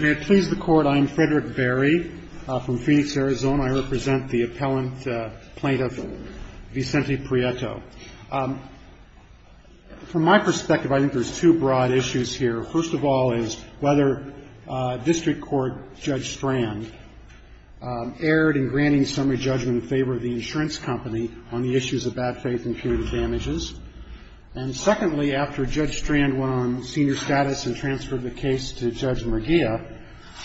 I am Frederick Berry from Phoenix, Arizona. I represent the appellant plaintiff Vicente Prieto. From my perspective, I think there's two broad issues here. First of all is whether District Court Judge Strand erred in granting summary judgment in favor of the insurance company on the issues of bad faith and punitive damages. And secondly, after Judge Strand went on senior status and transferred the case to Judge Mergia,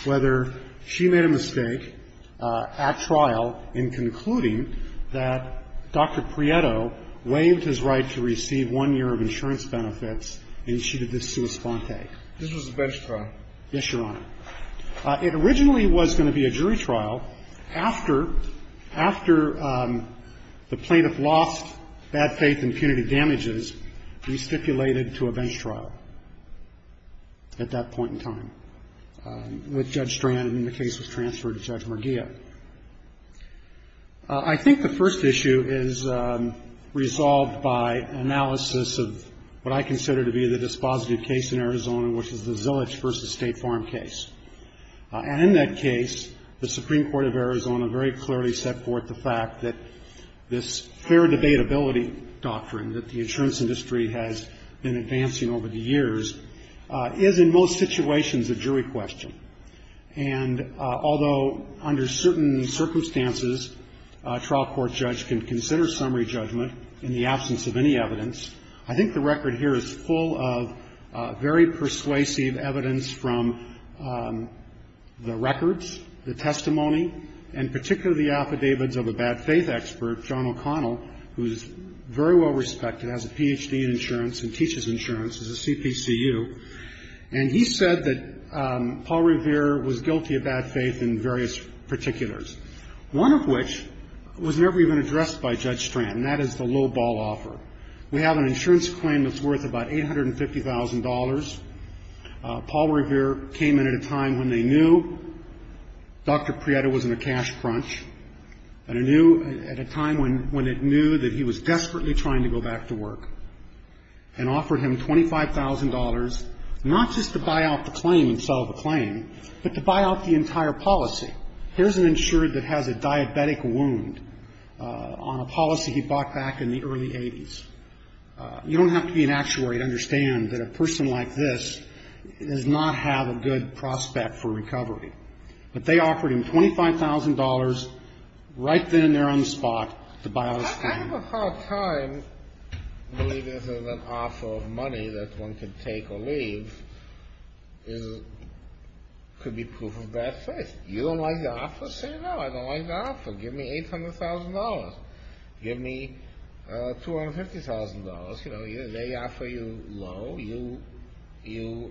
whether she made a mistake at trial in concluding that Dr. Prieto waived his right to receive one year of insurance benefits and she did this sua sponte. This was a bench trial. Yes, Your Honor. It originally was going to be a jury trial after, after the plaintiff lost bad faith and punitive damages, we stipulated to a bench trial at that point in time with Judge Strand, and the case was transferred to Judge Mergia. I think the first issue is resolved by analysis of what I consider to be the dispositive case in Arizona, which is the Zillage v. State Farm case. And in that case, the Supreme Court of Arizona very clearly set forth the fact that this fair debatability doctrine that the insurance industry has been advancing over the years is in most situations a jury question. And although under certain circumstances, a trial court judge can consider summary judgment in the absence of any evidence, I think the record here is full of very persuasive evidence from the records, the testimony, and particularly the affidavits of a bad faith expert, John O'Connell, who is very well respected, has a Ph.D. in insurance and teaches insurance, is a CPCU. And he said that Paul Revere was guilty of bad faith in various particulars, one of which was never even addressed by Judge Strand, and that is the lowball offer. We have an insurance claim that's worth about $850,000. Paul Revere came in at a time when they knew Dr. Prieto was in a cash crunch, and he knew at a time when it knew that he was desperately trying to go back to work, and offered him $25,000 not just to buy out the claim and sell the claim, but to buy out the entire policy. Here's an insured that has a diabetic wound on a policy he bought back in the early 80s. You don't have to be an actuary to understand that a person like this does not have a good prospect for recovery. But they offered him $25,000 right then and there on the spot to buy out his claim. I have a hard time believing that an offer of money that one can take or leave could be proof of bad faith. You don't like the offer? Say no, I don't like the offer. Give me $800,000. Give me $250,000. They offer you low, you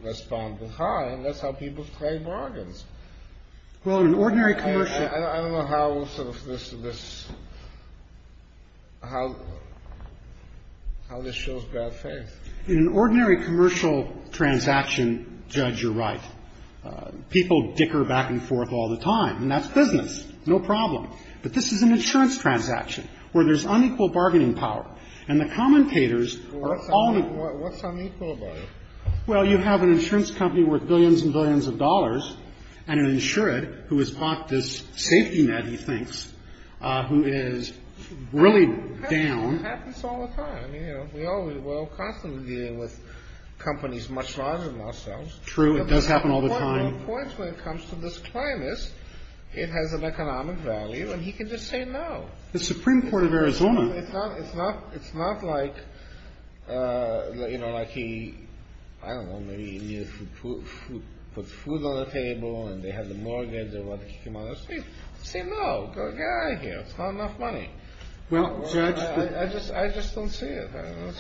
respond with high, and that's how people trade bargains. Well, in an ordinary commercial ---- I don't know how this shows bad faith. In an ordinary commercial transaction, Judge, you're right. People dicker back and forth all the time, and that's business. No problem. But this is an insurance transaction where there's unequal bargaining power. And the commentators are all ---- What's unequal about it? Well, you have an insurance company worth billions and billions of dollars and an insured who has bought this safety net, he thinks, who is really down. It happens all the time. We're all constantly dealing with companies much larger than ourselves. True, it does happen all the time. But the point when it comes to this claim is it has an economic value, and he can just say no. The Supreme Court of Arizona ---- It's not like, you know, like he, I don't know, maybe he put food on the table and they had the mortgage or whatever. Say no. Get out of here. It's not enough money. Well, Judge ---- I just don't see it.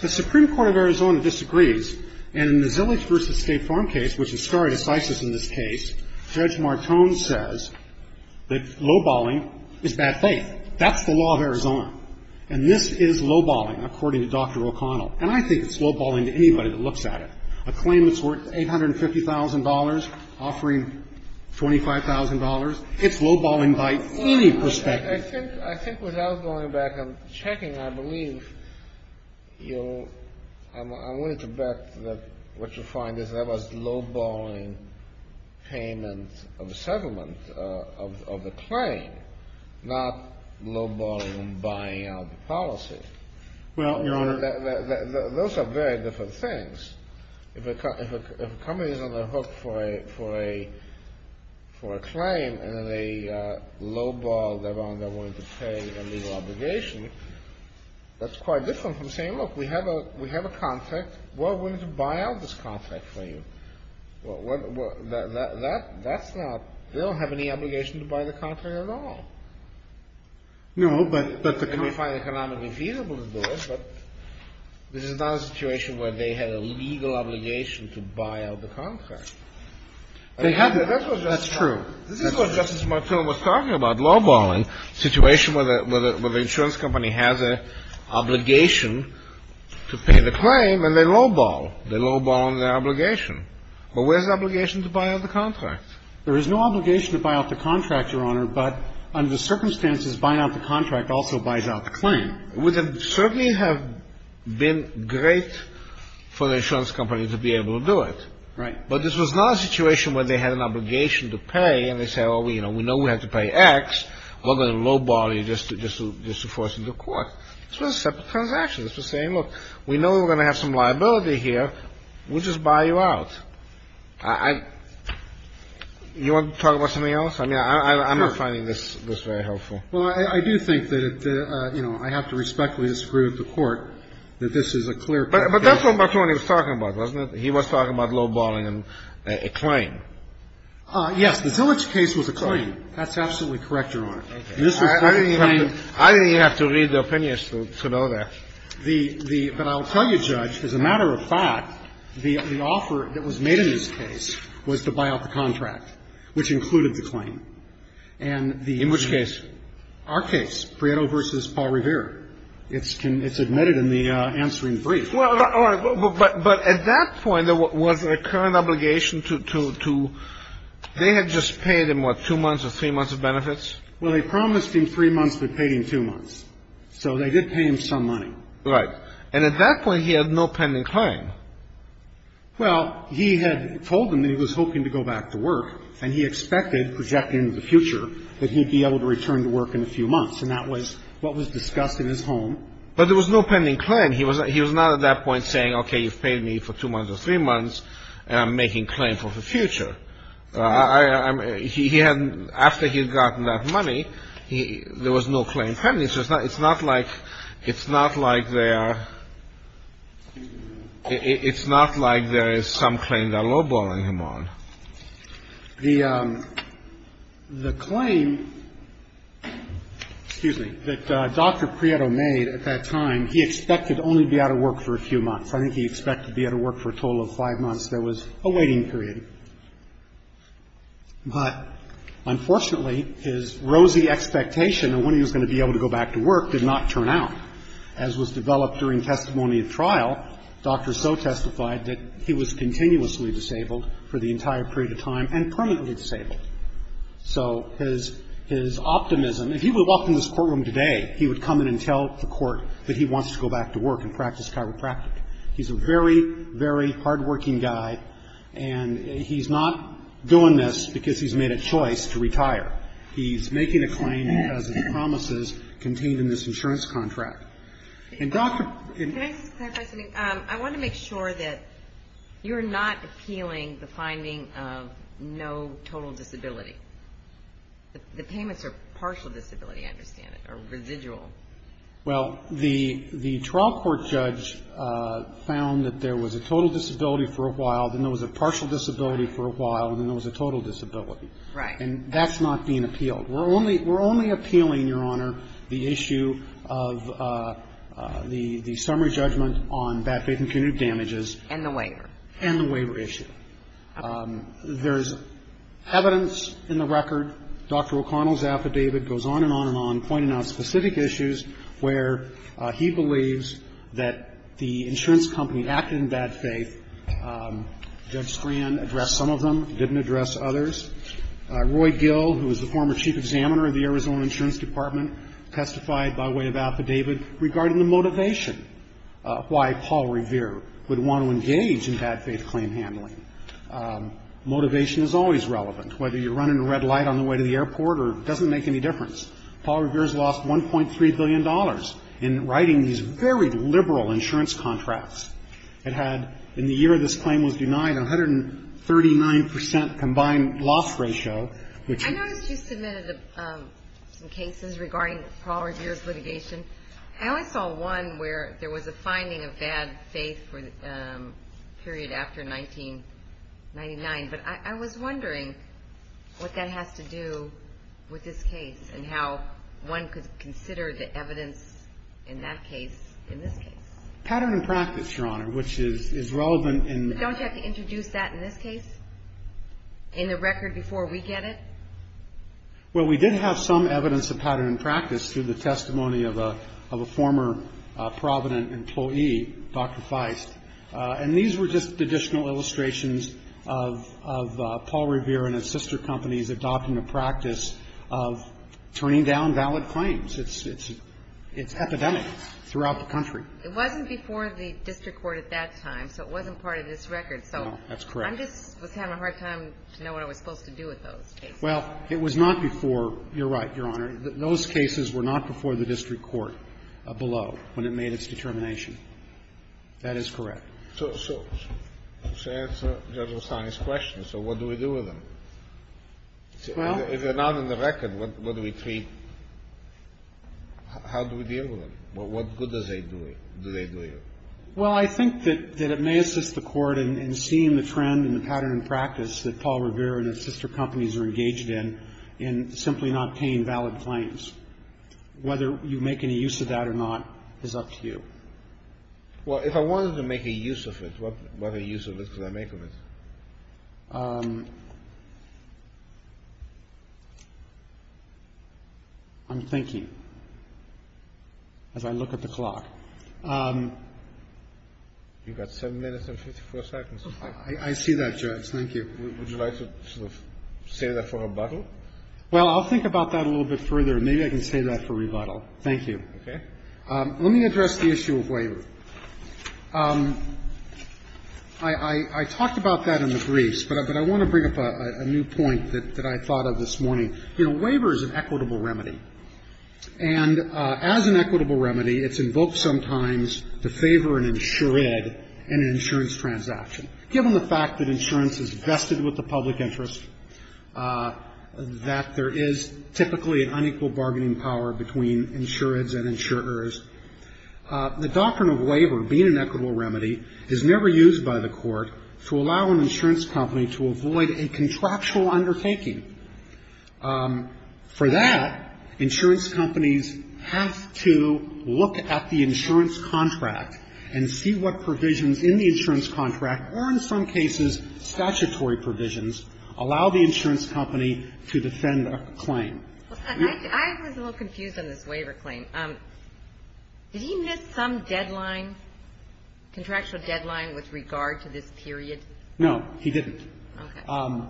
The Supreme Court of Arizona disagrees. And in the Zillage v. State Farm case, which is stare decisis in this case, Judge Martone says that low-balling is bad faith. That's the law of Arizona. And this is low-balling, according to Dr. O'Connell. And I think it's low-balling to anybody that looks at it. A claim that's worth $850,000 offering $25,000, it's low-balling by any perspective. I think without going back and checking, I believe you'll ---- I'm willing to bet that what you'll find is that was low-balling payment of the settlement of the claim, not low-balling buying out the policy. Well, Your Honor ---- Those are very different things. If a company is on the hook for a claim and they low-ball that they're willing to pay a legal obligation, that's quite different from saying, look, we have a contract. We're willing to buy out this contract for you. That's not ---- they don't have any obligation to buy the contract at all. No, but the ---- Well, we find it economically feasible to do it, but this is not a situation where they had a legal obligation to buy out the contract. That's true. This is what Justice Martel was talking about, low-balling, a situation where the insurance company has an obligation to pay the claim and they low-ball. They low-ball on their obligation. But where's the obligation to buy out the contract? There is no obligation to buy out the contract, Your Honor, but under the circumstances, buying out the contract also buys out the claim. It would certainly have been great for the insurance company to be able to do it. Right. But this was not a situation where they had an obligation to pay and they say, oh, you know, we know we have to pay X. We're going to low-ball you just to force you into court. This was a separate transaction. This was saying, look, we know we're going to have some liability here. We'll just buy you out. You want to talk about something else? I mean, I'm not finding this very helpful. Well, I do think that, you know, I have to respectfully disagree with the Court that this is a clear case. But that's what Martoni was talking about, wasn't it? He was talking about low-balling a claim. Yes. The Zilich case was a claim. That's absolutely correct, Your Honor. I think you have to read the opinions to know that. But I'll tell you, Judge, as a matter of fact, the offer that was made in this case was to buy out the contract, which included the claim. In which case? Our case, Prieto v. Paul Revere. It's admitted in the answering brief. But at that point, was there a current obligation to they had just paid him, what, two months or three months of benefits? Well, they promised him three months, but paid him two months. So they did pay him some money. Right. And at that point, he had no pending claim. Well, he had told them that he was hoping to go back to work, and he expected, projected into the future, that he'd be able to return to work in a few months. And that was what was discussed in his home. But there was no pending claim. He was not at that point saying, okay, you've paid me for two months or three months, and I'm making claim for the future. I mean, he hadn't, after he had gotten that money, there was no claim pending. So it's not like, it's not like there are, it's not like there is some claim they're lowballing him on. The claim, excuse me, that Dr. Prieto made at that time, he expected only to be out of work for a few months. I think he expected to be out of work for a total of five months. There was a waiting period. But unfortunately, his rosy expectation of when he was going to be able to go back to work did not turn out. As was developed during testimony at trial, doctors so testified that he was continuously disabled for the entire period of time and permanently disabled. So his optimism, if he would walk in this courtroom today, he would come in and tell the court that he wants to go back to work and practice chiropractic. He's a very, very hardworking guy, and he's not doing this because he's made a choice to retire. He's making a claim, as he promises, contained in this insurance contract. And Dr. ---- Can I just clarify something? I want to make sure that you're not appealing the finding of no total disability. Well, the trial court judge found that there was a total disability for a while, then there was a partial disability for a while, and then there was a total disability. Right. And that's not being appealed. We're only appealing, Your Honor, the issue of the summary judgment on bad faith and punitive damages. And the waiver. And the waiver issue. Okay. There's evidence in the record. Dr. O'Connell's affidavit goes on and on and on, pointing out specific issues where he believes that the insurance company acted in bad faith. Judge Scran addressed some of them, didn't address others. Roy Gill, who was the former chief examiner of the Arizona Insurance Department, testified by way of affidavit regarding the motivation, why Paul Revere would want to engage in bad faith claim handling. Motivation is always relevant, whether you're running a red light on the way to the airport or it doesn't make any difference. Paul Revere has lost $1.3 billion in writing these very liberal insurance contracts. It had, in the year this claim was denied, 139 percent combined loss ratio, which is ---- Some cases regarding Paul Revere's litigation. I only saw one where there was a finding of bad faith for the period after 1999. But I was wondering what that has to do with this case and how one could consider the evidence in that case in this case. Pattern and practice, Your Honor, which is relevant in ---- Don't you have to introduce that in this case? In the record before we get it? Well, we did have some evidence of pattern and practice through the testimony of a former Provident employee, Dr. Feist. And these were just additional illustrations of Paul Revere and his sister companies adopting a practice of turning down valid claims. It's epidemic throughout the country. It wasn't before the district court at that time, so it wasn't part of this record. No, that's correct. I just was having a hard time to know what I was supposed to do with those cases. Well, it was not before ---- You're right, Your Honor. Those cases were not before the district court below when it made its determination. That is correct. So to answer Judge Rossani's question, so what do we do with them? Well ---- If they're not in the record, what do we treat? How do we deal with them? What good do they do you? Well, I think that it may assist the Court in seeing the trend and the pattern and practice that Paul Revere and his sister companies are engaged in, in simply not paying valid claims. Whether you make any use of that or not is up to you. Well, if I wanted to make a use of it, what use of it could I make of it? You've got 7 minutes and 54 seconds. I see that, Judge. Thank you. Would you like to sort of save that for rebuttal? Well, I'll think about that a little bit further. Maybe I can save that for rebuttal. Thank you. Okay. Let me address the issue of waiver. I talked about that in the briefs, but I want to bring up a new point that I thought of this morning. You know, waiver is an equitable remedy. And as an equitable remedy, it's invoked sometimes to favor an insured and an insurance transaction. Given the fact that insurance is vested with the public interest, that there is typically an unequal bargaining power between insureds and insurers, the doctrine of waiver being an equitable remedy is never used by the Court to allow an insurance company to avoid a contractual undertaking. For that, insurance companies have to look at the insurance contract and see what provisions in the insurance contract, or in some cases statutory provisions, allow the insurance company to defend a claim. I was a little confused on this waiver claim. Did he miss some deadline, contractual deadline with regard to this period? No, he didn't. Okay.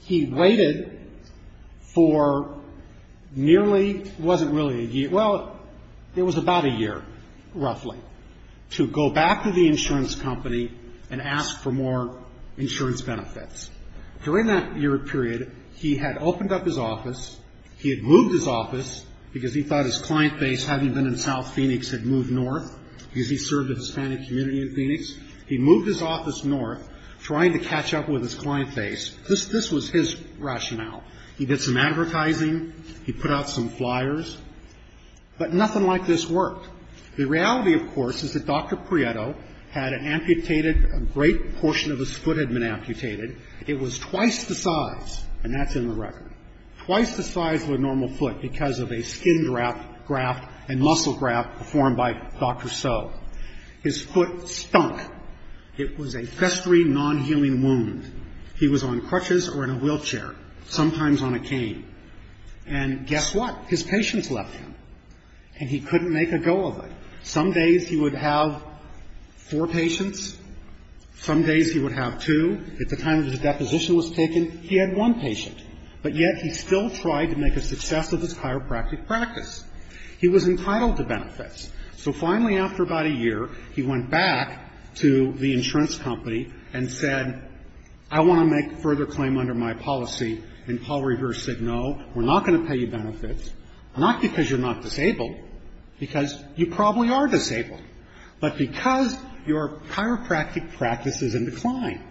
He waited for nearly, it wasn't really a year, well, it was about a year, roughly, to go back to the insurance company and ask for more insurance benefits. During that year period, he had opened up his office, he had moved his office because he thought his client base, having been in South Phoenix, had moved north because he served the Hispanic community in Phoenix. He moved his office north, trying to catch up with his client base. This was his rationale. He did some advertising. He put out some flyers. But nothing like this worked. The reality, of course, is that Dr. Prieto had an amputated, a great portion of his foot had been amputated. It was twice the size, and that's in the record, twice the size of a normal foot because of a skin graft and muscle graft performed by Dr. So. His foot stunk. It was a festering, non-healing wound. He was on crutches or in a wheelchair, sometimes on a cane. And guess what? His patients left him. And he couldn't make a go of it. Some days he would have four patients. Some days he would have two. At the time his deposition was taken, he had one patient. But yet he still tried to make a success of his chiropractic practice. He was entitled to benefits. So finally, after about a year, he went back to the insurance company and said, I want to make further claim under my policy. And Paul Revere said, no, we're not going to pay you benefits, not because you're not disabled, because you probably are disabled, but because your chiropractic practice is in decline.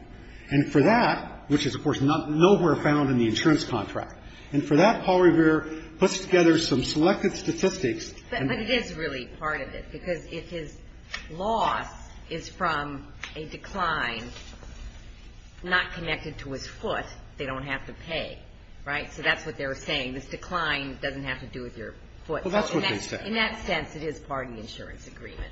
And for that, which is, of course, nowhere found in the insurance contract. And for that, Paul Revere puts together some selected statistics. But it is really part of it. Because if his loss is from a decline not connected to his foot, they don't have to pay. Right? So that's what they're saying. This decline doesn't have to do with your foot. Well, that's what they said. In that sense, it is part of the insurance agreement.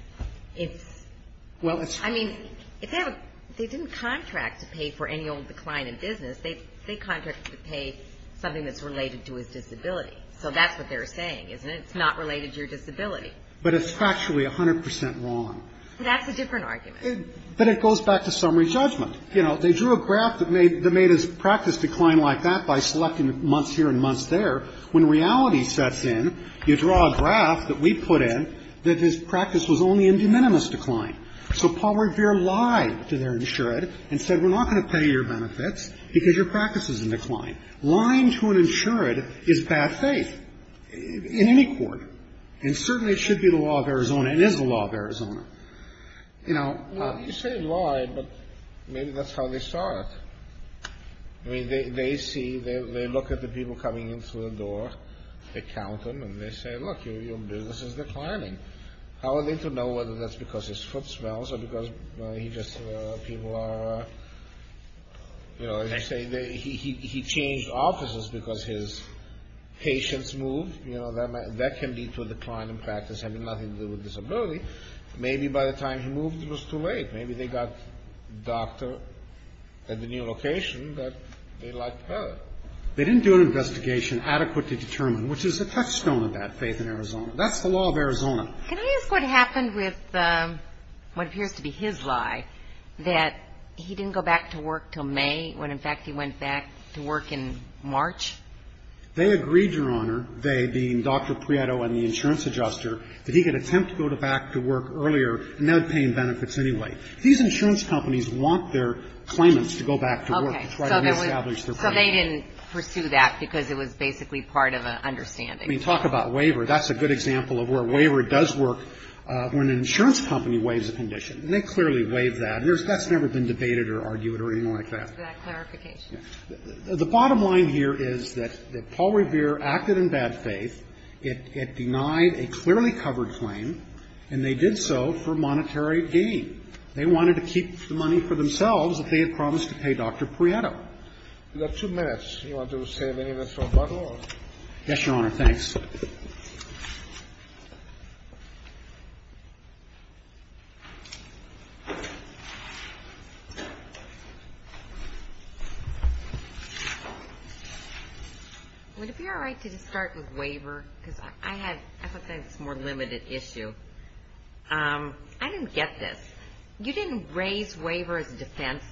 I mean, they didn't contract to pay for any old decline in business. They contracted to pay something that's related to his disability. So that's what they're saying, isn't it? It's not related to your disability. But it's factually 100 percent wrong. That's a different argument. But it goes back to summary judgment. You know, they drew a graph that made his practice decline like that by selecting months here and months there. When reality sets in, you draw a graph that we put in that his practice was only in de minimis decline. So Paul Revere lied to their insured and said, we're not going to pay your benefits because your practice is in decline. Lying to an insured is bad faith. In any court. And certainly it should be the law of Arizona. It is the law of Arizona. You know. You say he lied, but maybe that's how they saw it. I mean, they see, they look at the people coming in through the door. They count them and they say, look, your business is declining. How are they to know whether that's because his foot smells or because he just, people are, you know, they say he changed offices because his patients moved. You know, that can lead to a decline in practice having nothing to do with disability. Maybe by the time he moved, it was too late. Maybe they got a doctor at the new location that they liked better. They didn't do an investigation adequate to determine, which is a touchstone of that faith in Arizona. That's the law of Arizona. Can I ask what happened with what appears to be his lie, that he didn't go back to work until May when, in fact, he went back to work in March? They agreed, Your Honor, they being Dr. Prieto and the insurance adjuster, that he could attempt to go back to work earlier, not paying benefits anyway. These insurance companies want their claimants to go back to work to try to reestablish their claim. Okay. So they didn't pursue that because it was basically part of an understanding. I mean, talk about waiver. That's a good example of where waiver does work when an insurance company waives a condition, and they clearly waive that. And that's never been debated or argued or anything like that. Is that clarification? Yes. The bottom line here is that Paul Revere acted in bad faith. It denied a clearly covered claim, and they did so for monetary gain. They wanted to keep the money for themselves if they had promised to pay Dr. Prieto. You've got two minutes. Do you want to say anything about that? Yes, Your Honor. Thanks. Would it be all right to just start with waiver? Because I thought that was a more limited issue. I didn't get this. You didn't raise waiver as a defense.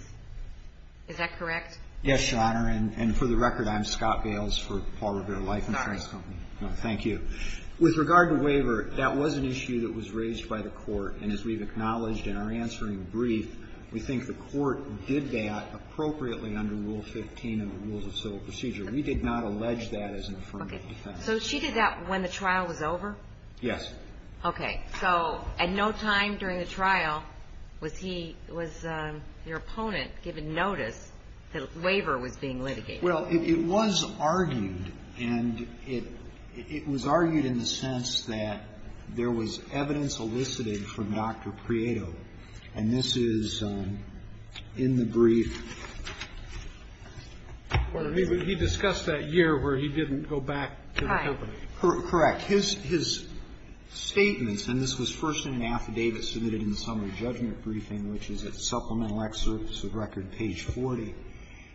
Is that correct? Yes, Your Honor. And for the record, I'm Scott Gales for Paul Revere Life Insurance Company. Thank you. With regard to waiver, that was an issue that was raised by the court, and as we've acknowledged in our answering brief, we think the court did that appropriately under Rule 15 of the Rules of Civil Procedure. We did not allege that as an affirmative defense. Okay. So she did that when the trial was over? Yes. Okay. So at no time during the trial was he, was your opponent given notice that waiver was being litigated? Well, it was argued, and it was argued in the sense that there was evidence elicited from Dr. Prieto, and this is in the brief. He discussed that year where he didn't go back to the company. Correct. His statements, and this was first in an affidavit submitted in the summary judgment briefing, which is at Supplemental Excerpts of Record, page 40.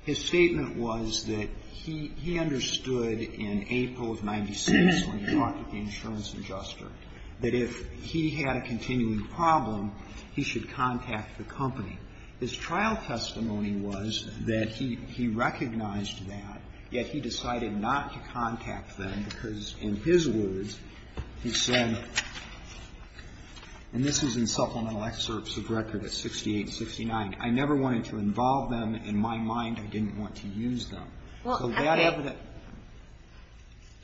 His statement was that he understood in April of 1996 when he talked to the insurance adjuster, that if he had a continuing problem, he should contact the company. His trial testimony was that he recognized that, yet he decided not to contact them because, in his words, he said, and this was in Supplemental Excerpts of Record at 68-69, I never wanted to involve them. In my mind, I didn't want to use them. So that evidence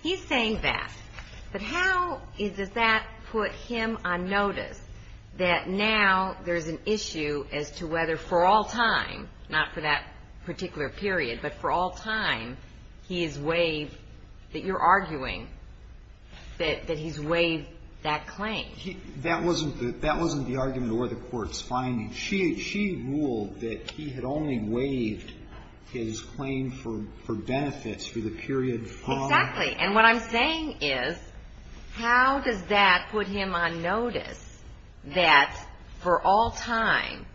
He's saying that. But how does that put him on notice that now there's an issue as to whether for all time, not for that particular period, but for all time, he is waived that you're arguing that he's waived that claim? That wasn't the argument or the court's finding. She ruled that he had only waived his claim for benefits for the period from the How does that put him on notice that for all time,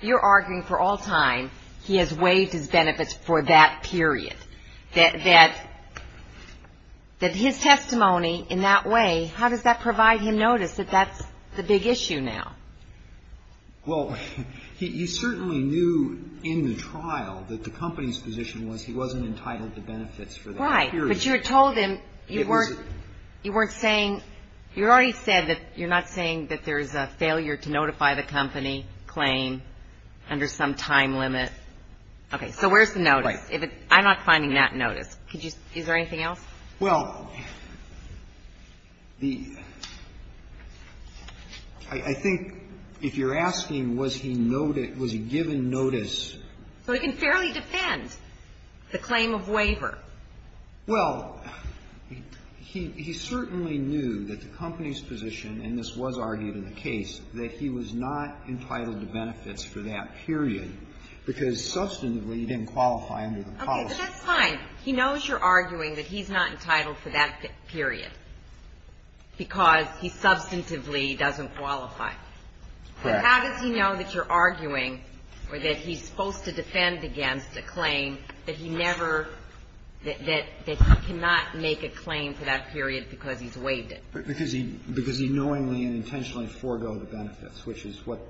you're arguing for all time, he has waived his benefits for that period, that his testimony in that way, how does that provide him notice that that's the big issue now? Well, he certainly knew in the trial that the company's position was he wasn't entitled to benefits for that period. But you had told him you weren't saying, you already said that you're not saying that there's a failure to notify the company claim under some time limit. Okay. So where's the notice? I'm not finding that notice. Is there anything else? Well, I think if you're asking was he given notice. So he can fairly defend the claim of waiver. Well, he certainly knew that the company's position, and this was argued in the case, that he was not entitled to benefits for that period because substantively he didn't qualify under the policy. Okay. But that's fine. He knows you're arguing that he's not entitled for that period because he substantively doesn't qualify. Correct. But how does he know that you're arguing or that he's supposed to defend against a claim that he never, that he cannot make a claim for that period because he's waived it? Because he knowingly and intentionally forgoed the benefits, which is what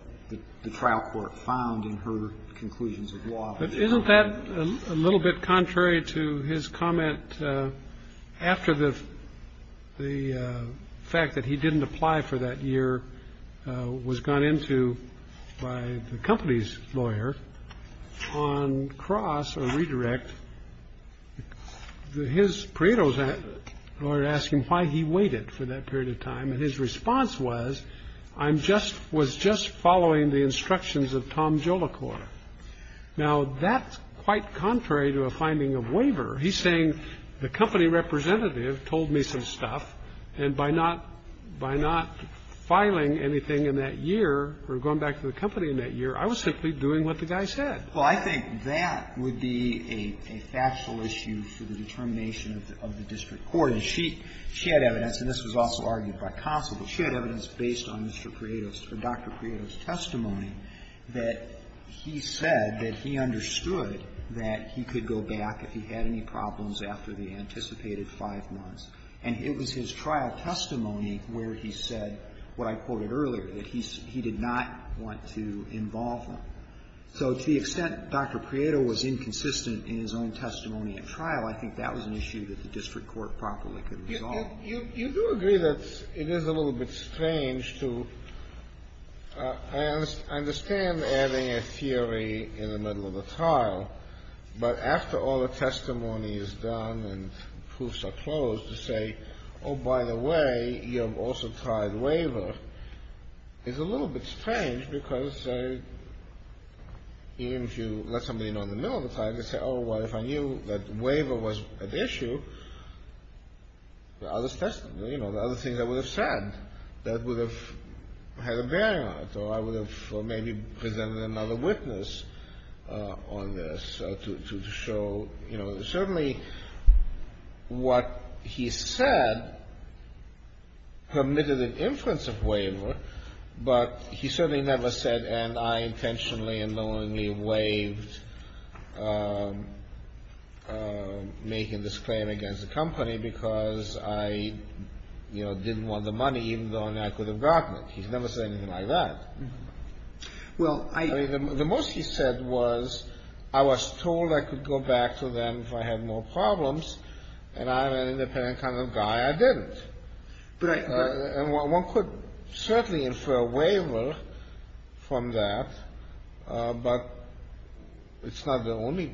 the trial court found in her conclusions of law. But isn't that a little bit contrary to his comment after the fact that he didn't apply for that year was gone into by the company's lawyer on cross or redirect. The his credos or ask him why he waited for that period of time. And his response was, I'm just was just following the instructions of Tom Jolicoeur. Now, that's quite contrary to a finding of waiver. He's saying the company representative told me some stuff. And by not, by not filing anything in that year or going back to the company in that year, I was simply doing what the guy said. Well, I think that would be a factual issue for the determination of the district court. And she, she had evidence, and this was also argued by Conso, but she had evidence based on Mr. Credos or Dr. Credos' testimony that he said that he understood that he could go back if he had any problems after the anticipated five months. And it was his trial testimony where he said what I quoted earlier, that he, he did not want to involve him. So to the extent Dr. Credo was inconsistent in his own testimony at trial, I think that was an issue that the district court properly could resolve. You, you, you do agree that it is a little bit strange to, I understand adding a theory in the middle of a trial, but after all the testimony is done and proofs are closed, to say, oh, by the way, you have also tried waiver, is a little bit strange because even if you let somebody in on the middle of the trial, you say, oh, well, if I knew that waiver was at issue, the other testimony, you know, the other thing I would have said that would have had a bearing on it, or I would have, or maybe presented another witness on this to, to, to show, you know, certainly what he said permitted an inference of waiver, but he certainly never said, and I intentionally and knowingly waived making this claim against the company because I, you know, didn't want the money even though I could have gotten it. He's never said anything like that. I mean, the most he said was, I was told I could go back to them if I had no problem and I'm an independent kind of guy, I didn't, and one could certainly infer waiver from that, but it's not the only,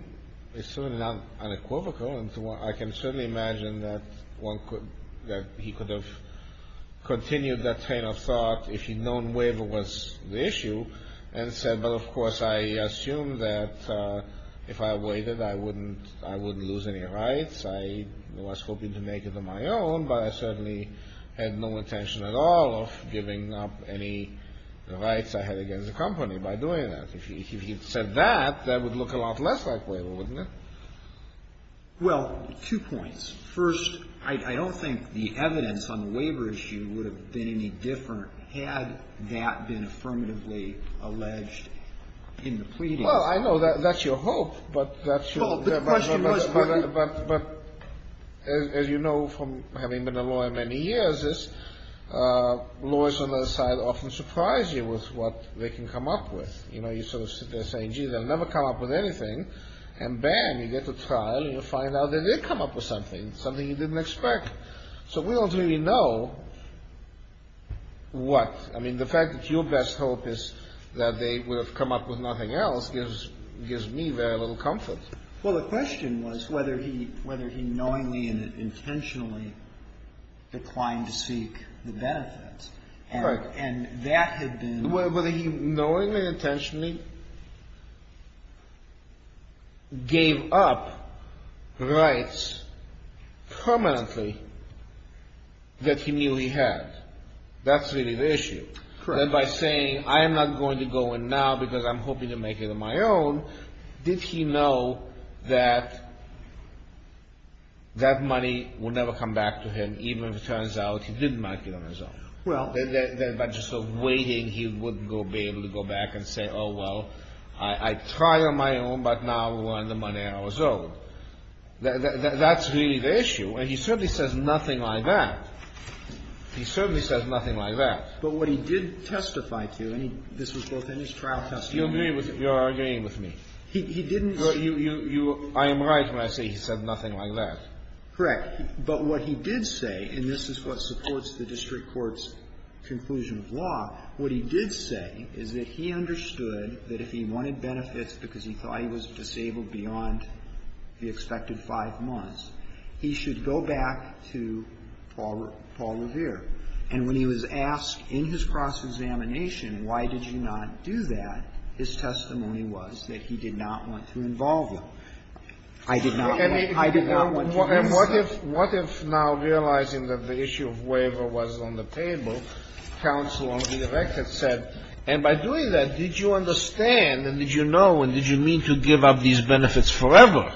it's certainly not unequivocal, and I can certainly imagine that one could, that he could have continued that train of thought if he'd known waiver was the issue and said, well, of course, I assume that if I waited, I wouldn't lose any rights. I was hoping to make it on my own, but I certainly had no intention at all of giving up any rights I had against the company by doing that. If he had said that, that would look a lot less like waiver, wouldn't it? Well, two points. First, I don't think the evidence on the waiver issue would have been any different had that been affirmatively alleged in the pleading. Well, I know that, that's your hope, but that's your... But as you know from having been a lawyer many years, lawyers on the other side often surprise you with what they can come up with. You know, you sort of sit there saying, gee, they'll never come up with anything and bam, you get to trial and you find out they did come up with something, something you didn't expect. So we don't really know what, I mean, the fact that your best hope is that they would have come up with nothing else gives me very little comfort. Well, the question was whether he, whether he knowingly and intentionally declined to seek the benefits and that had been... Whether he knowingly, intentionally gave up rights permanently that he knew he had. That's really the issue. Then by saying, I am not going to go in now because I'm hoping to make it on my own. Did he know that that money will never come back to him even if it turns out he didn't make it on his own? Well... Then by just sort of waiting, he wouldn't be able to go back and say, oh, well, I tried on my own, but now we're on the money on our own. That's really the issue. And he certainly says nothing like that. He certainly says nothing like that. But what he did testify to, and this was both in his trial testimony... You agree with, you're agreeing with me. He didn't... But you, you, you, I am right when I say he said nothing like that. Correct. But what he did say, and this is what supports the district court's conclusion of law, what he did say is that he understood that if he wanted benefits because he thought he was disabled beyond the expected five months, he should go back to Paul, Paul Revere. And when he was asked in his cross-examination, why did you not do that? His testimony was that he did not want to involve you. I did not want to involve you. And what if, what if now realizing that the issue of waiver was on the table, counsel on the record said, and by doing that, did you understand and did you know and did you mean to give up these benefits forever?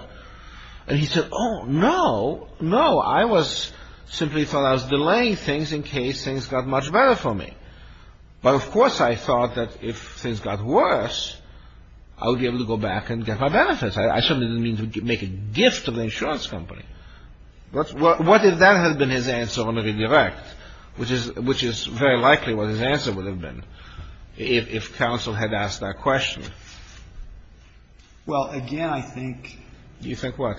And he said, oh, no, no. I was simply thought I was delaying things in case things got much better for me. But of course, I thought that if things got worse, I would be able to go back and get my benefits. I certainly didn't mean to make a gift to the insurance company. But what if that had been his answer on a redirect, which is, which is very likely what his answer would have been if, if counsel had asked that question? Well, again, I think... You think what?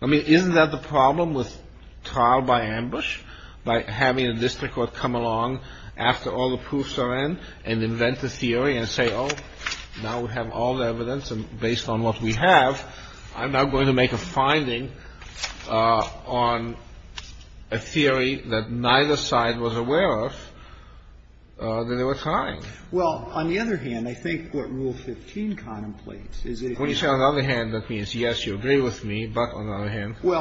I mean, isn't that the problem with trial by ambush? By having a district court come along after all the proofs are in and invent a theory and say, oh, now we have all the evidence and based on what we have, I'm now going to make a finding on a theory that neither side was aware of that they were trying. Well, on the other hand, I think what Rule 15 contemplates is... When you say on the other hand, that means, yes, you agree with me, but on the other hand... Maybe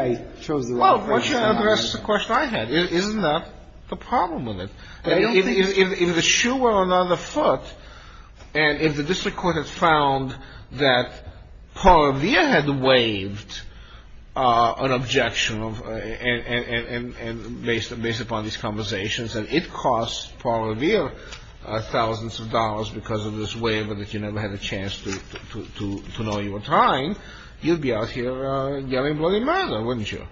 I chose the wrong phrase. Well, why don't you ask the question I had? Isn't that the problem with it? If the shoe were on the foot and if the district court has found that Paul Revere had waived an objection based upon these conversations and it costs Paul Revere thousands of dollars because of this waiver that you never had a chance to know you were trying, you'd be out here yelling bloody murder, wouldn't you?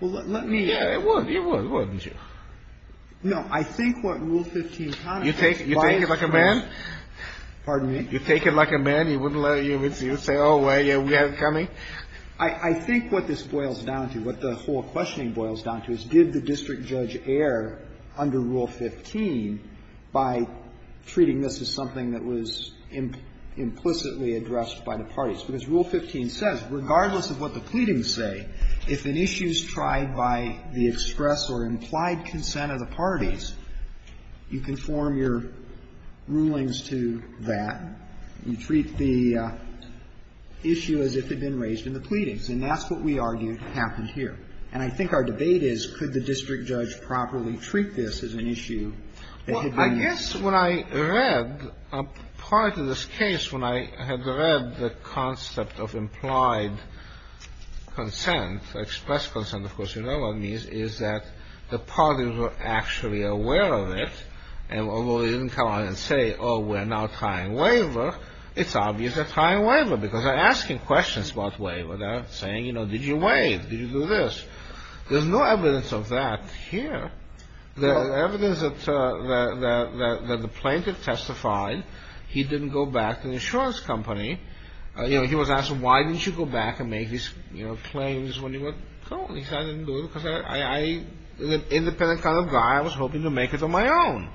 Well, let me... Yeah, it would, it would, wouldn't you? No, I think what Rule 15 contemplates... You take it like a man? Pardon me? You take it like a man? You wouldn't let him, you'd say, oh, well, yeah, we have it coming? I think what this boils down to, what the whole questioning boils down to, is did the Because Rule 15 says, regardless of what the pleadings say, if an issue is tried by the express or implied consent of the parties, you can form your rulings to that. You treat the issue as if it had been raised in the pleadings. And that's what we argue happened here. And I think our debate is, could the district judge properly treat this as an issue that had been... Prior to this case, when I had read the concept of implied consent, express consent, of course, you know what it means, is that the parties were actually aware of it. And although they didn't come out and say, oh, we're now trying waiver, it's obvious they're trying waiver, because they're asking questions about waiver. They're saying, you know, did you waive? Did you do this? There's no evidence of that here. The evidence that the plaintiff testified, he didn't go back to the insurance company. You know, he was asked, why didn't you go back and make these, you know, claims when you were... He said, I didn't do it because I was an independent kind of guy. I was hoping to make it on my own.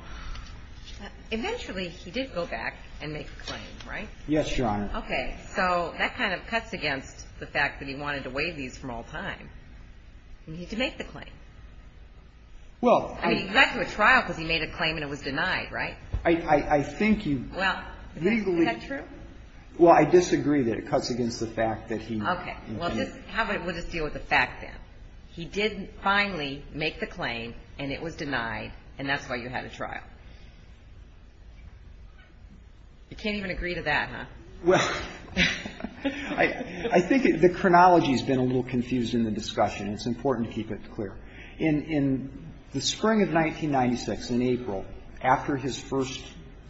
Eventually, he did go back and make the claim, right? Yes, Your Honor. Okay. So that kind of cuts against the fact that he wanted to waive these from all time. And he did make the claim. Well, I... I mean, you got to a trial because he made a claim and it was denied, right? I think you... Well, is that true? Well, I disagree that it cuts against the fact that he... Okay. Well, just, how about we'll just deal with the fact then. He did finally make the claim, and it was denied, and that's why you had a trial. You can't even agree to that, huh? Well, I think the chronology has been a little confused in the discussion. It's important to keep it clear. In the spring of 1996, in April, after his first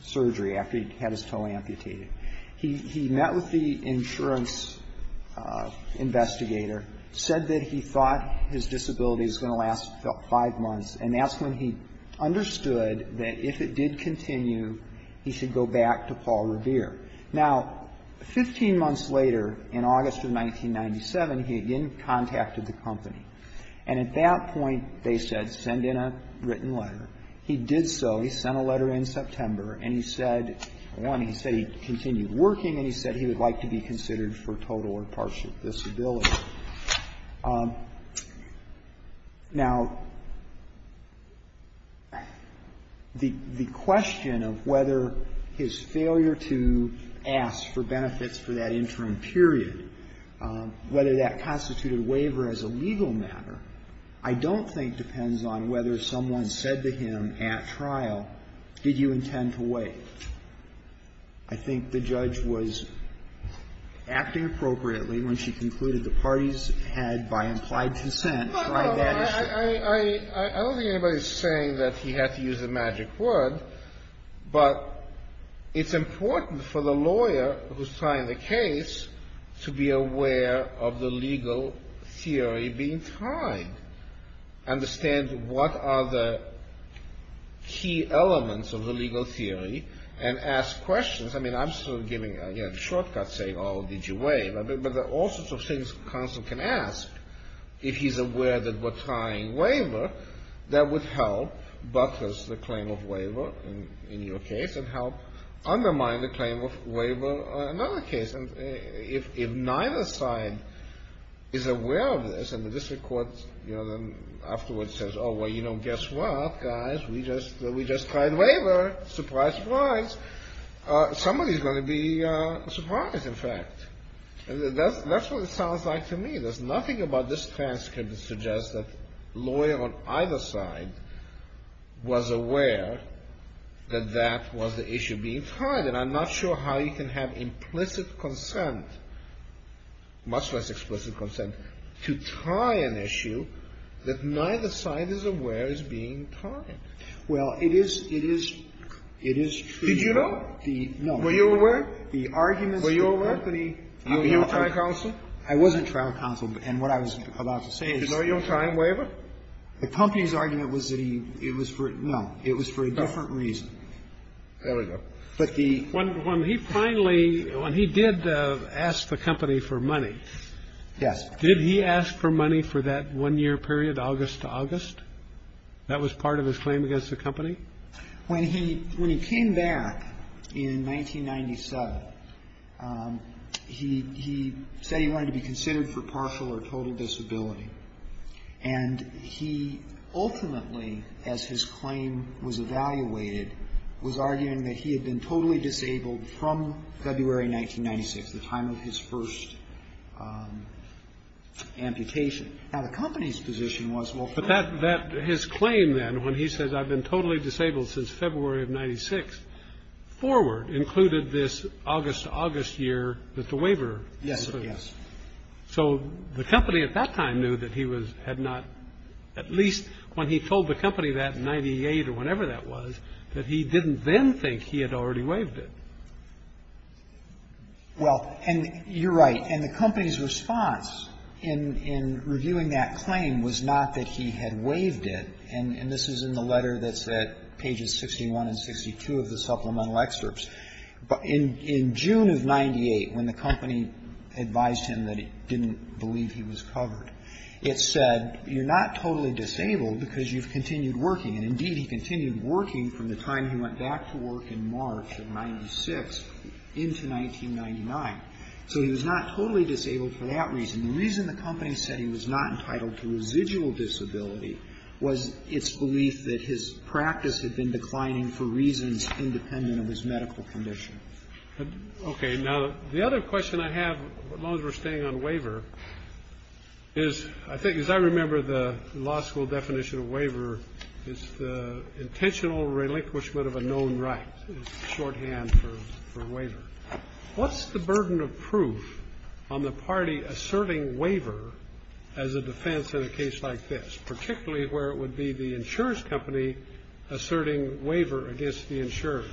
surgery, after he had his toe amputated, he met with the insurance investigator, said that he thought his disability was going to last five months. And that's when he understood that if it did continue, he should go back to Paul Revere. Now, 15 months later, in August of 1997, he again contacted the company. And at that point, they said, send in a written letter. He did so. He sent a letter in September, and he said, one, he said he continued working, and he said he would like to be considered for total or partial disability. Now, the question of whether his failure to ask for benefits for that interim period, whether that constituted waiver as a legal matter, I don't think depends on whether someone said to him at trial, did you intend to wait? I think the judge was acting appropriately when she concluded the parties had, by implied consent, tried that issue. I don't think anybody's saying that he had to use the magic word, but it's important for the lawyer who's trying the case to be aware of the legal theory being tried, understand what are the key elements of the legal theory, and ask questions. I mean, I'm sort of giving, again, shortcuts, saying, oh, did you waive? But there are all sorts of things a counsel can ask if he's aware that we're trying waiver that would help buttress the claim of waiver in your case, and help undermine the claim of waiver on another case. And if neither side is aware of this, and the district court, you know, then afterwards says, oh, well, you know, guess what, guys? We just tried waiver. Surprise, surprise. Somebody's going to be surprised, in fact. That's what it sounds like to me. There's nothing about this transcript that suggests that lawyer on either side was aware that that was the issue being tried. And I'm not sure how you can have implicit consent, much less explicit consent, to try an issue that neither side is aware is being tried. Well, it is, it is, it is true. Did you know? No. Were you aware? The arguments that Anthony tried counsel? I wasn't trial counsel. And what I was about to say is, oh, you'll try waiver? The company's argument was that he, it was for, no, it was for a different reason. There we go. But the. When he finally, when he did ask the company for money. Yes. Did he ask for money for that one year period, August to August? That was part of his claim against the company? When he, when he came back in 1997, he, he said he wanted to be considered for partial or total disability. And he ultimately, as his claim was evaluated, was arguing that he had been totally disabled from February 1996, the time of his first amputation. Now, the company's position was, well. But that, that, his claim then, when he says, I've been totally disabled since February of 96, forward included this August to August year that the waiver. Yes, yes. So the company at that time knew that he was, had not, at least when he told the company that in 98 or whatever that was, that he didn't then think he had already waived it. Well, and you're right. And the company's response in, in reviewing that claim was not that he had waived it. And this is in the letter that's at pages 61 and 62 of the supplemental excerpts. But in, in June of 98, when the company advised him that it didn't believe he was covered, it said, you're not totally disabled because you've continued working. And indeed, he continued working from the time he went back to work in March of 96 into 1999. So he was not totally disabled for that reason. The reason the company said he was not entitled to residual disability was its belief that his practice had been declining for reasons independent of his medical condition. Okay. Now, the other question I have, as long as we're staying on waiver, is, I think, as I remember the law school definition of waiver, is the intentional relinquishment of a known right is shorthand for, for waiver. What's the burden of proof on the party asserting waiver as a defense in a case like this, particularly where it would be the insurance company asserting waiver against the insurer?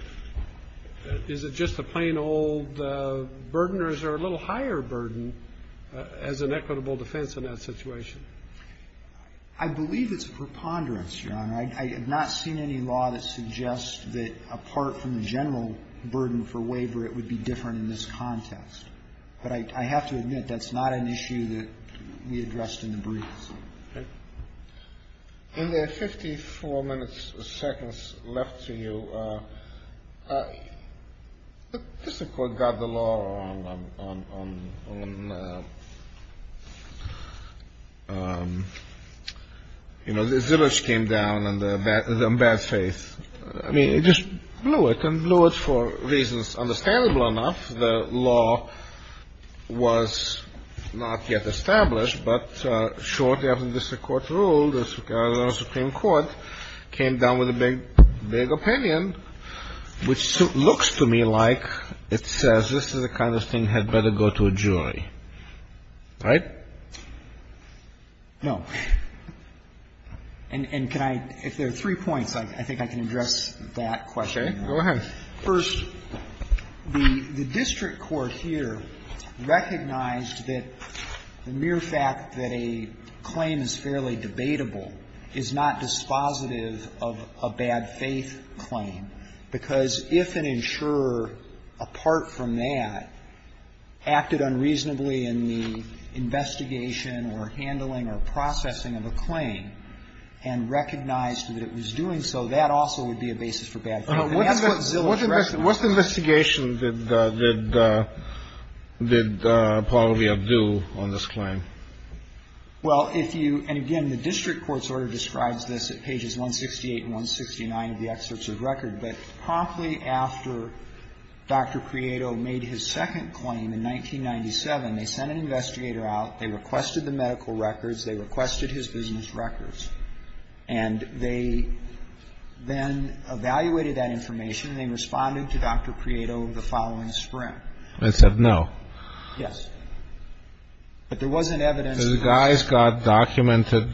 Is it just a plain old burden, or is there a little higher burden as an equitable defense in that situation? I believe it's a preponderance, Your Honor. I have not seen any law that suggests that apart from the general burden for waiver, it would be different in this context. But I, I have to admit, that's not an issue that we addressed in the briefs. In the 54 minutes, seconds left to you, the District Court got the law on, on, on, on, you know, the zillage came down and the bad, the bad faith, I mean, it just blew it and blew it for reasons understandable enough. The law was not yet established, but shortly after the District Court ruled, the Supreme Court came down with a big, big opinion, which looks to me like it says this is the kind of thing had better go to a jury. Right? No. And, and can I, if there are three points, I think I can address that question. Okay. Go ahead. First, the, the District Court here recognized that the mere fact that a claim is fairly debatable is not dispositive of a bad faith claim, because if an insurer, apart from that, acted unreasonably in the investigation or handling or processing of a claim, and recognized that it was doing so, that also would be a basis for bad faith. And that's what zillage recognized. What's the investigation that, that, that Apollo v. Abdu on this claim? Well, if you, and again, the District Court's order describes this at pages 168 and 169 of the excerpts of record. But promptly after Dr. Prieto made his second claim in 1997, they sent an investigator out, they requested the medical records, they requested his business records, and they then evaluated that information. They responded to Dr. Prieto the following spring. And said no. Yes. But there wasn't evidence. The guy's got documented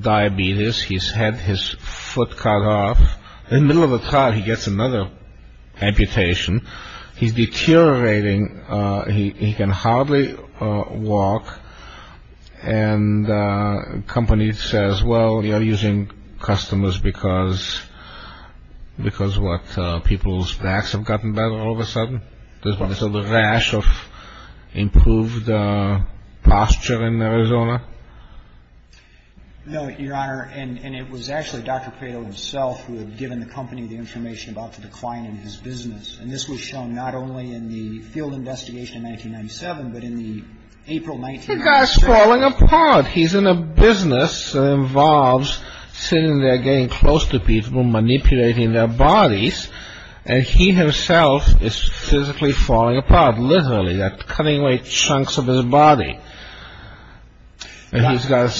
diabetes. He's had his foot cut off. In the middle of a trial, he gets another amputation. He's deteriorating. He can hardly walk. And the company says, well, you're using customers because, because what, people's backs have gotten better all of a sudden? Because of the rash of improved posture in Arizona? No, Your Honor, and it was actually Dr. Prieto himself who had given the company the information about the decline in his business. And this was shown not only in the field investigation in 1997, but in the April 1997. The guy's falling apart. He's in a business that involves sitting there getting close to people, manipulating their bodies. And he himself is physically falling apart, literally. They're cutting away chunks of his body. And he's got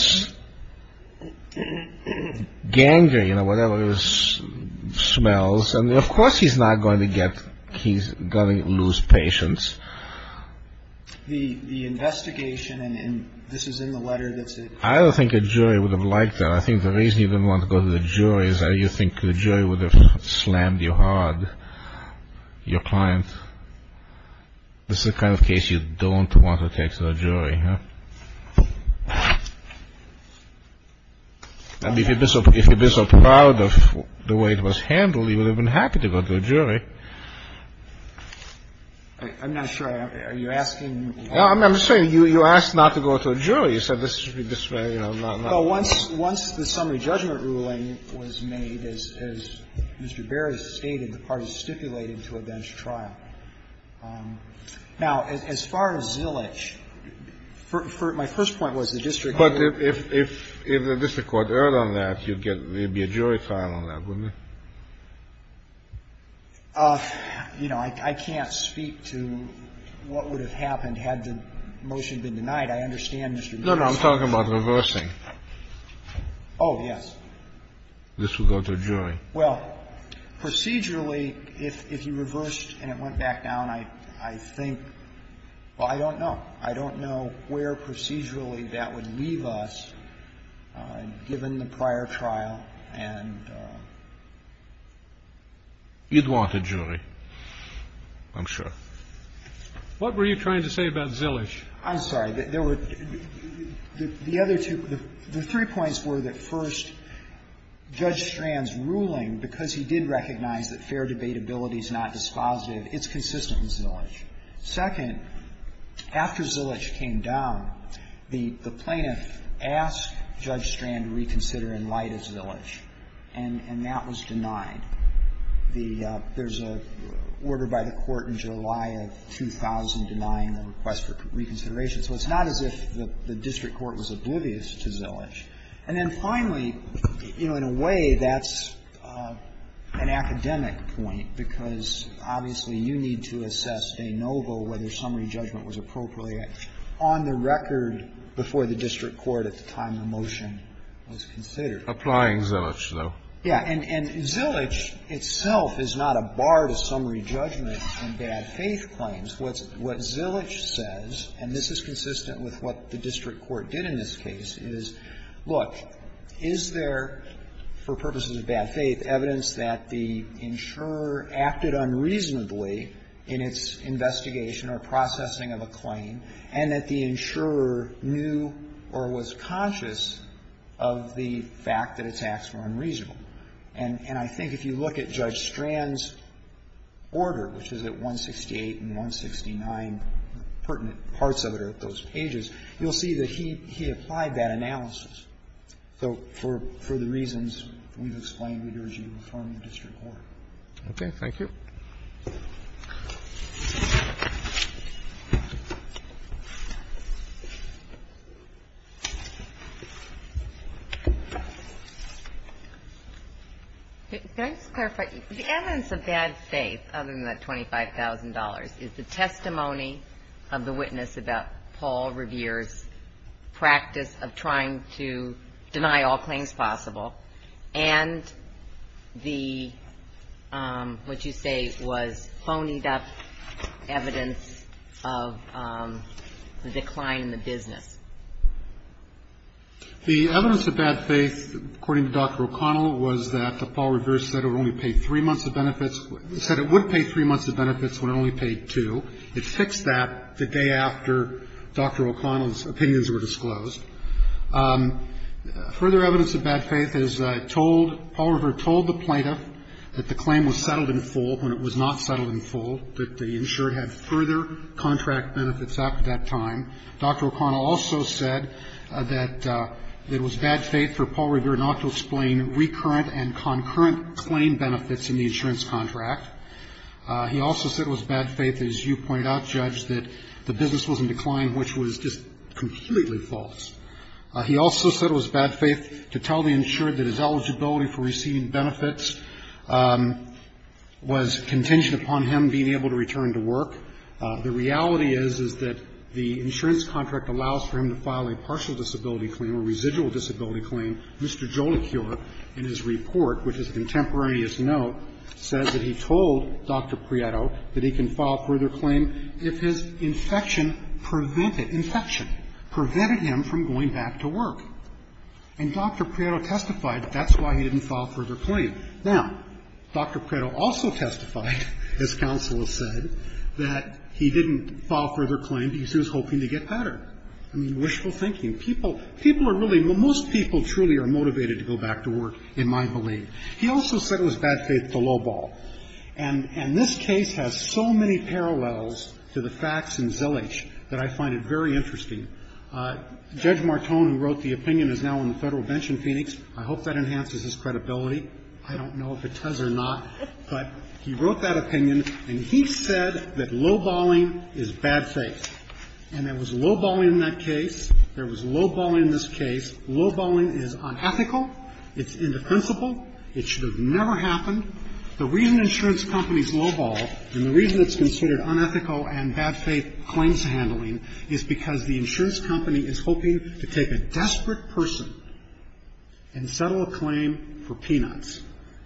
gangrene or whatever it is, smells. And of course he's not going to get, he's going to lose patience. The investigation, and this is in the letter that's in. I don't think a jury would have liked that. I think the reason you didn't want to go to the jury is that you think the jury would have slammed you hard, your client. This is the kind of case you don't want to take to the jury. I mean, if you'd been so proud of the way it was handled, you would have been happy to go to a jury. I'm not sure. Are you asking? I'm saying you asked not to go to a jury. You said this should be this way. Once the summary judgment ruling was made, as Mr. Berry stated, the parties stipulated to advance trial. Now, as far as Zillage, my first point was the district court. But if the district court erred on that, you'd get, there'd be a jury trial on that, wouldn't there? You know, I can't speak to what would have happened had the motion been denied. I understand, Mr. Gershwin. No, no, I'm talking about reversing. Oh, yes. This would go to a jury. Well, procedurally, if you reversed and it went back down, I think, well, I don't know. I don't know where procedurally that would leave us, given the prior trial and you'd want a jury, I'm sure. What were you trying to say about Zillage? I'm sorry. There were, the other two, the three points were that, first, Judge Strand's ruling, because he did recognize that fair debatability is not dispositive, it's consistent with Zillage. Second, after Zillage came down, the plaintiff asked Judge Strand to reconsider in light of Zillage, and that was denied. There's an order by the Court in July of 2009, a request for reconsideration. So it's not as if the district court was oblivious to Zillage. And then, finally, you know, in a way, that's an academic point, because, obviously, you need to assess de novo whether summary judgment was appropriate on the record before the district court, at the time the motion was considered. Applying Zillage, though. Yeah. And Zillage itself is not a bar to summary judgment in bad faith claims. What Zillage says, and this is consistent with what the district court did in this case, is, look, is there, for purposes of bad faith, evidence that the insurer acted unreasonably in its investigation or processing of a claim, and that the insurer knew or was conscious of the fact that attacks were unreasonable? And I think if you look at Judge Strand's order, which is at 168 and 169, pertinent parts of it are at those pages, you'll see that he applied that analysis. So for the reasons we've explained, we urge you to reform your district order. Okay. Thank you. The evidence of bad faith, other than that $25,000, is the testimony of the witness about Paul Revere's practice of trying to deny all claims possible, and the, what they say was phoned-up evidence of the decline in the business. The evidence of bad faith, according to Dr. O'Connell, was that Paul Revere said it would only pay three months of benefits, said it would pay three months of benefits when it only paid two. It fixed that the day after Dr. O'Connell's opinions were disclosed. Further evidence of bad faith is told, Paul Revere told the plaintiff that the claim was settled in full when it was not settled in full, that the insured had further contract benefits after that time. Dr. O'Connell also said that it was bad faith for Paul Revere not to explain recurrent and concurrent claim benefits in the insurance contract. He also said it was bad faith, as you pointed out, Judge, that the business was in decline, which was just completely false. He also said it was bad faith to tell the insured that his eligibility for receiving benefits was contingent upon him being able to return to work. The reality is, is that the insurance contract allows for him to file a partial disability claim, a residual disability claim. Mr. Jolicure, in his report, with his contemporaneous note, says that he told Dr. Prieto that he can file further claim if his infection prevented, infection prevented him from going back to work. And Dr. Prieto testified that that's why he didn't file further claim. Now, Dr. Prieto also testified, as counsel has said, that he didn't file further claim because he was hoping to get better. I mean, wishful thinking. People, people are really, most people truly are motivated to go back to work, in my belief. He also said it was bad faith to lowball. And this case has so many parallels to the facts in Zillage that I find it very interesting. Judge Martone, who wrote the opinion, is now on the Federal bench in Phoenix. I hope that enhances his credibility. I don't know if it does or not. But he wrote that opinion, and he said that lowballing is bad faith. And there was lowballing in that case. There was lowballing in this case. Lowballing is unethical. It's indefensible. It should have never happened. The reason insurance companies lowball, and the reason it's considered unethical and bad faith claims handling is because the insurance company is hoping to take a desperate person and settle a claim for peanuts.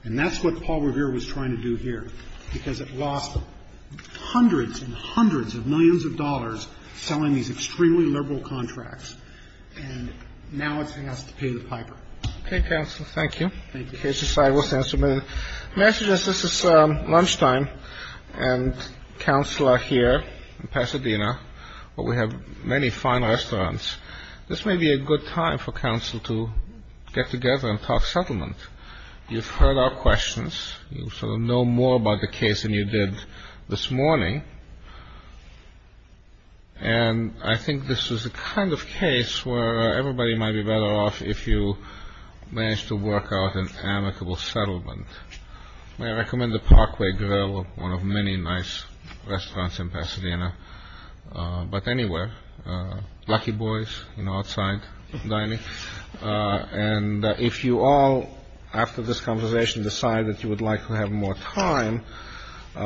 And that's what Paul Revere was trying to do here, because it lost hundreds and hundreds of millions of dollars selling these extremely liberal contracts. And now it's going to have to pay the piper. Roberts. Thank you. May I suggest this is lunchtime, and counsel are here. We're in Pasadena, but we have many fine restaurants. This may be a good time for counsel to get together and talk settlement. You've heard our questions. You sort of know more about the case than you did this morning. And I think this is the kind of case where everybody might be better off if you manage to work out an amicable settlement. May I recommend the Parkway Grill, one of many nice restaurants in Pasadena. But anywhere. Lucky Boys, you know, outside dining. And if you all, after this conversation, decide that you would like to have more time,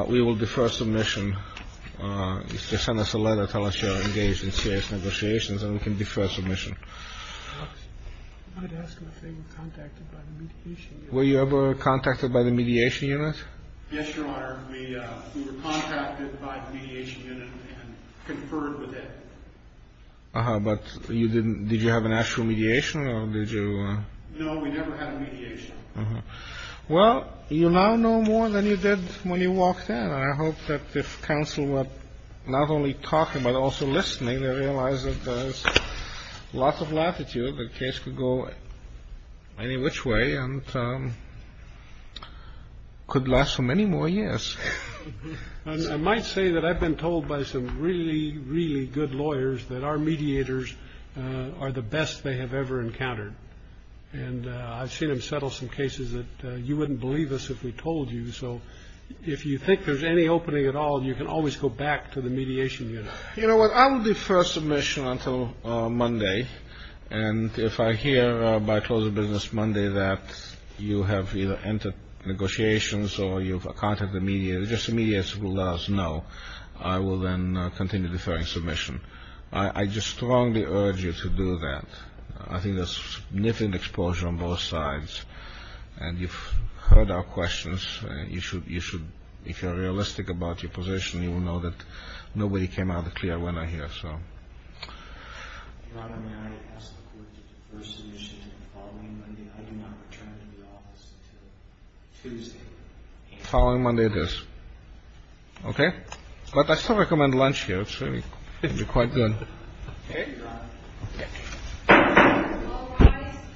we will defer submission. Just send us a letter, tell us you're engaged in serious negotiations, and we can defer submission. I'm going to ask if they were contacted by the meat issue. Were you ever contacted by the mediation unit? Yes, Your Honor. We were contacted by the mediation unit and conferred with it. But you didn't. Did you have an actual mediation or did you know we never had a mediation? Well, you now know more than you did when you walked in. I hope that this council would not only talk about also listening to realize that there's lots of latitude. The case could go any which way and could last for many more years. I might say that I've been told by some really, really good lawyers that our mediators are the best they have ever encountered. And I've seen him settle some cases that you wouldn't believe us if we told you. So if you think there's any opening at all, you can always go back to the mediation unit. You know what, I will defer submission until Monday. And if I hear by closing business Monday that you have either entered negotiations or you've contacted the media, just the media will let us know. I will then continue deferring submission. I just strongly urge you to do that. I think there's significant exposure on both sides. And you've heard our questions. You should you should. If you're realistic about your position, you will know that nobody came out clear when I hear. So following Monday, this. OK. But I still recommend lunch here. Quite good.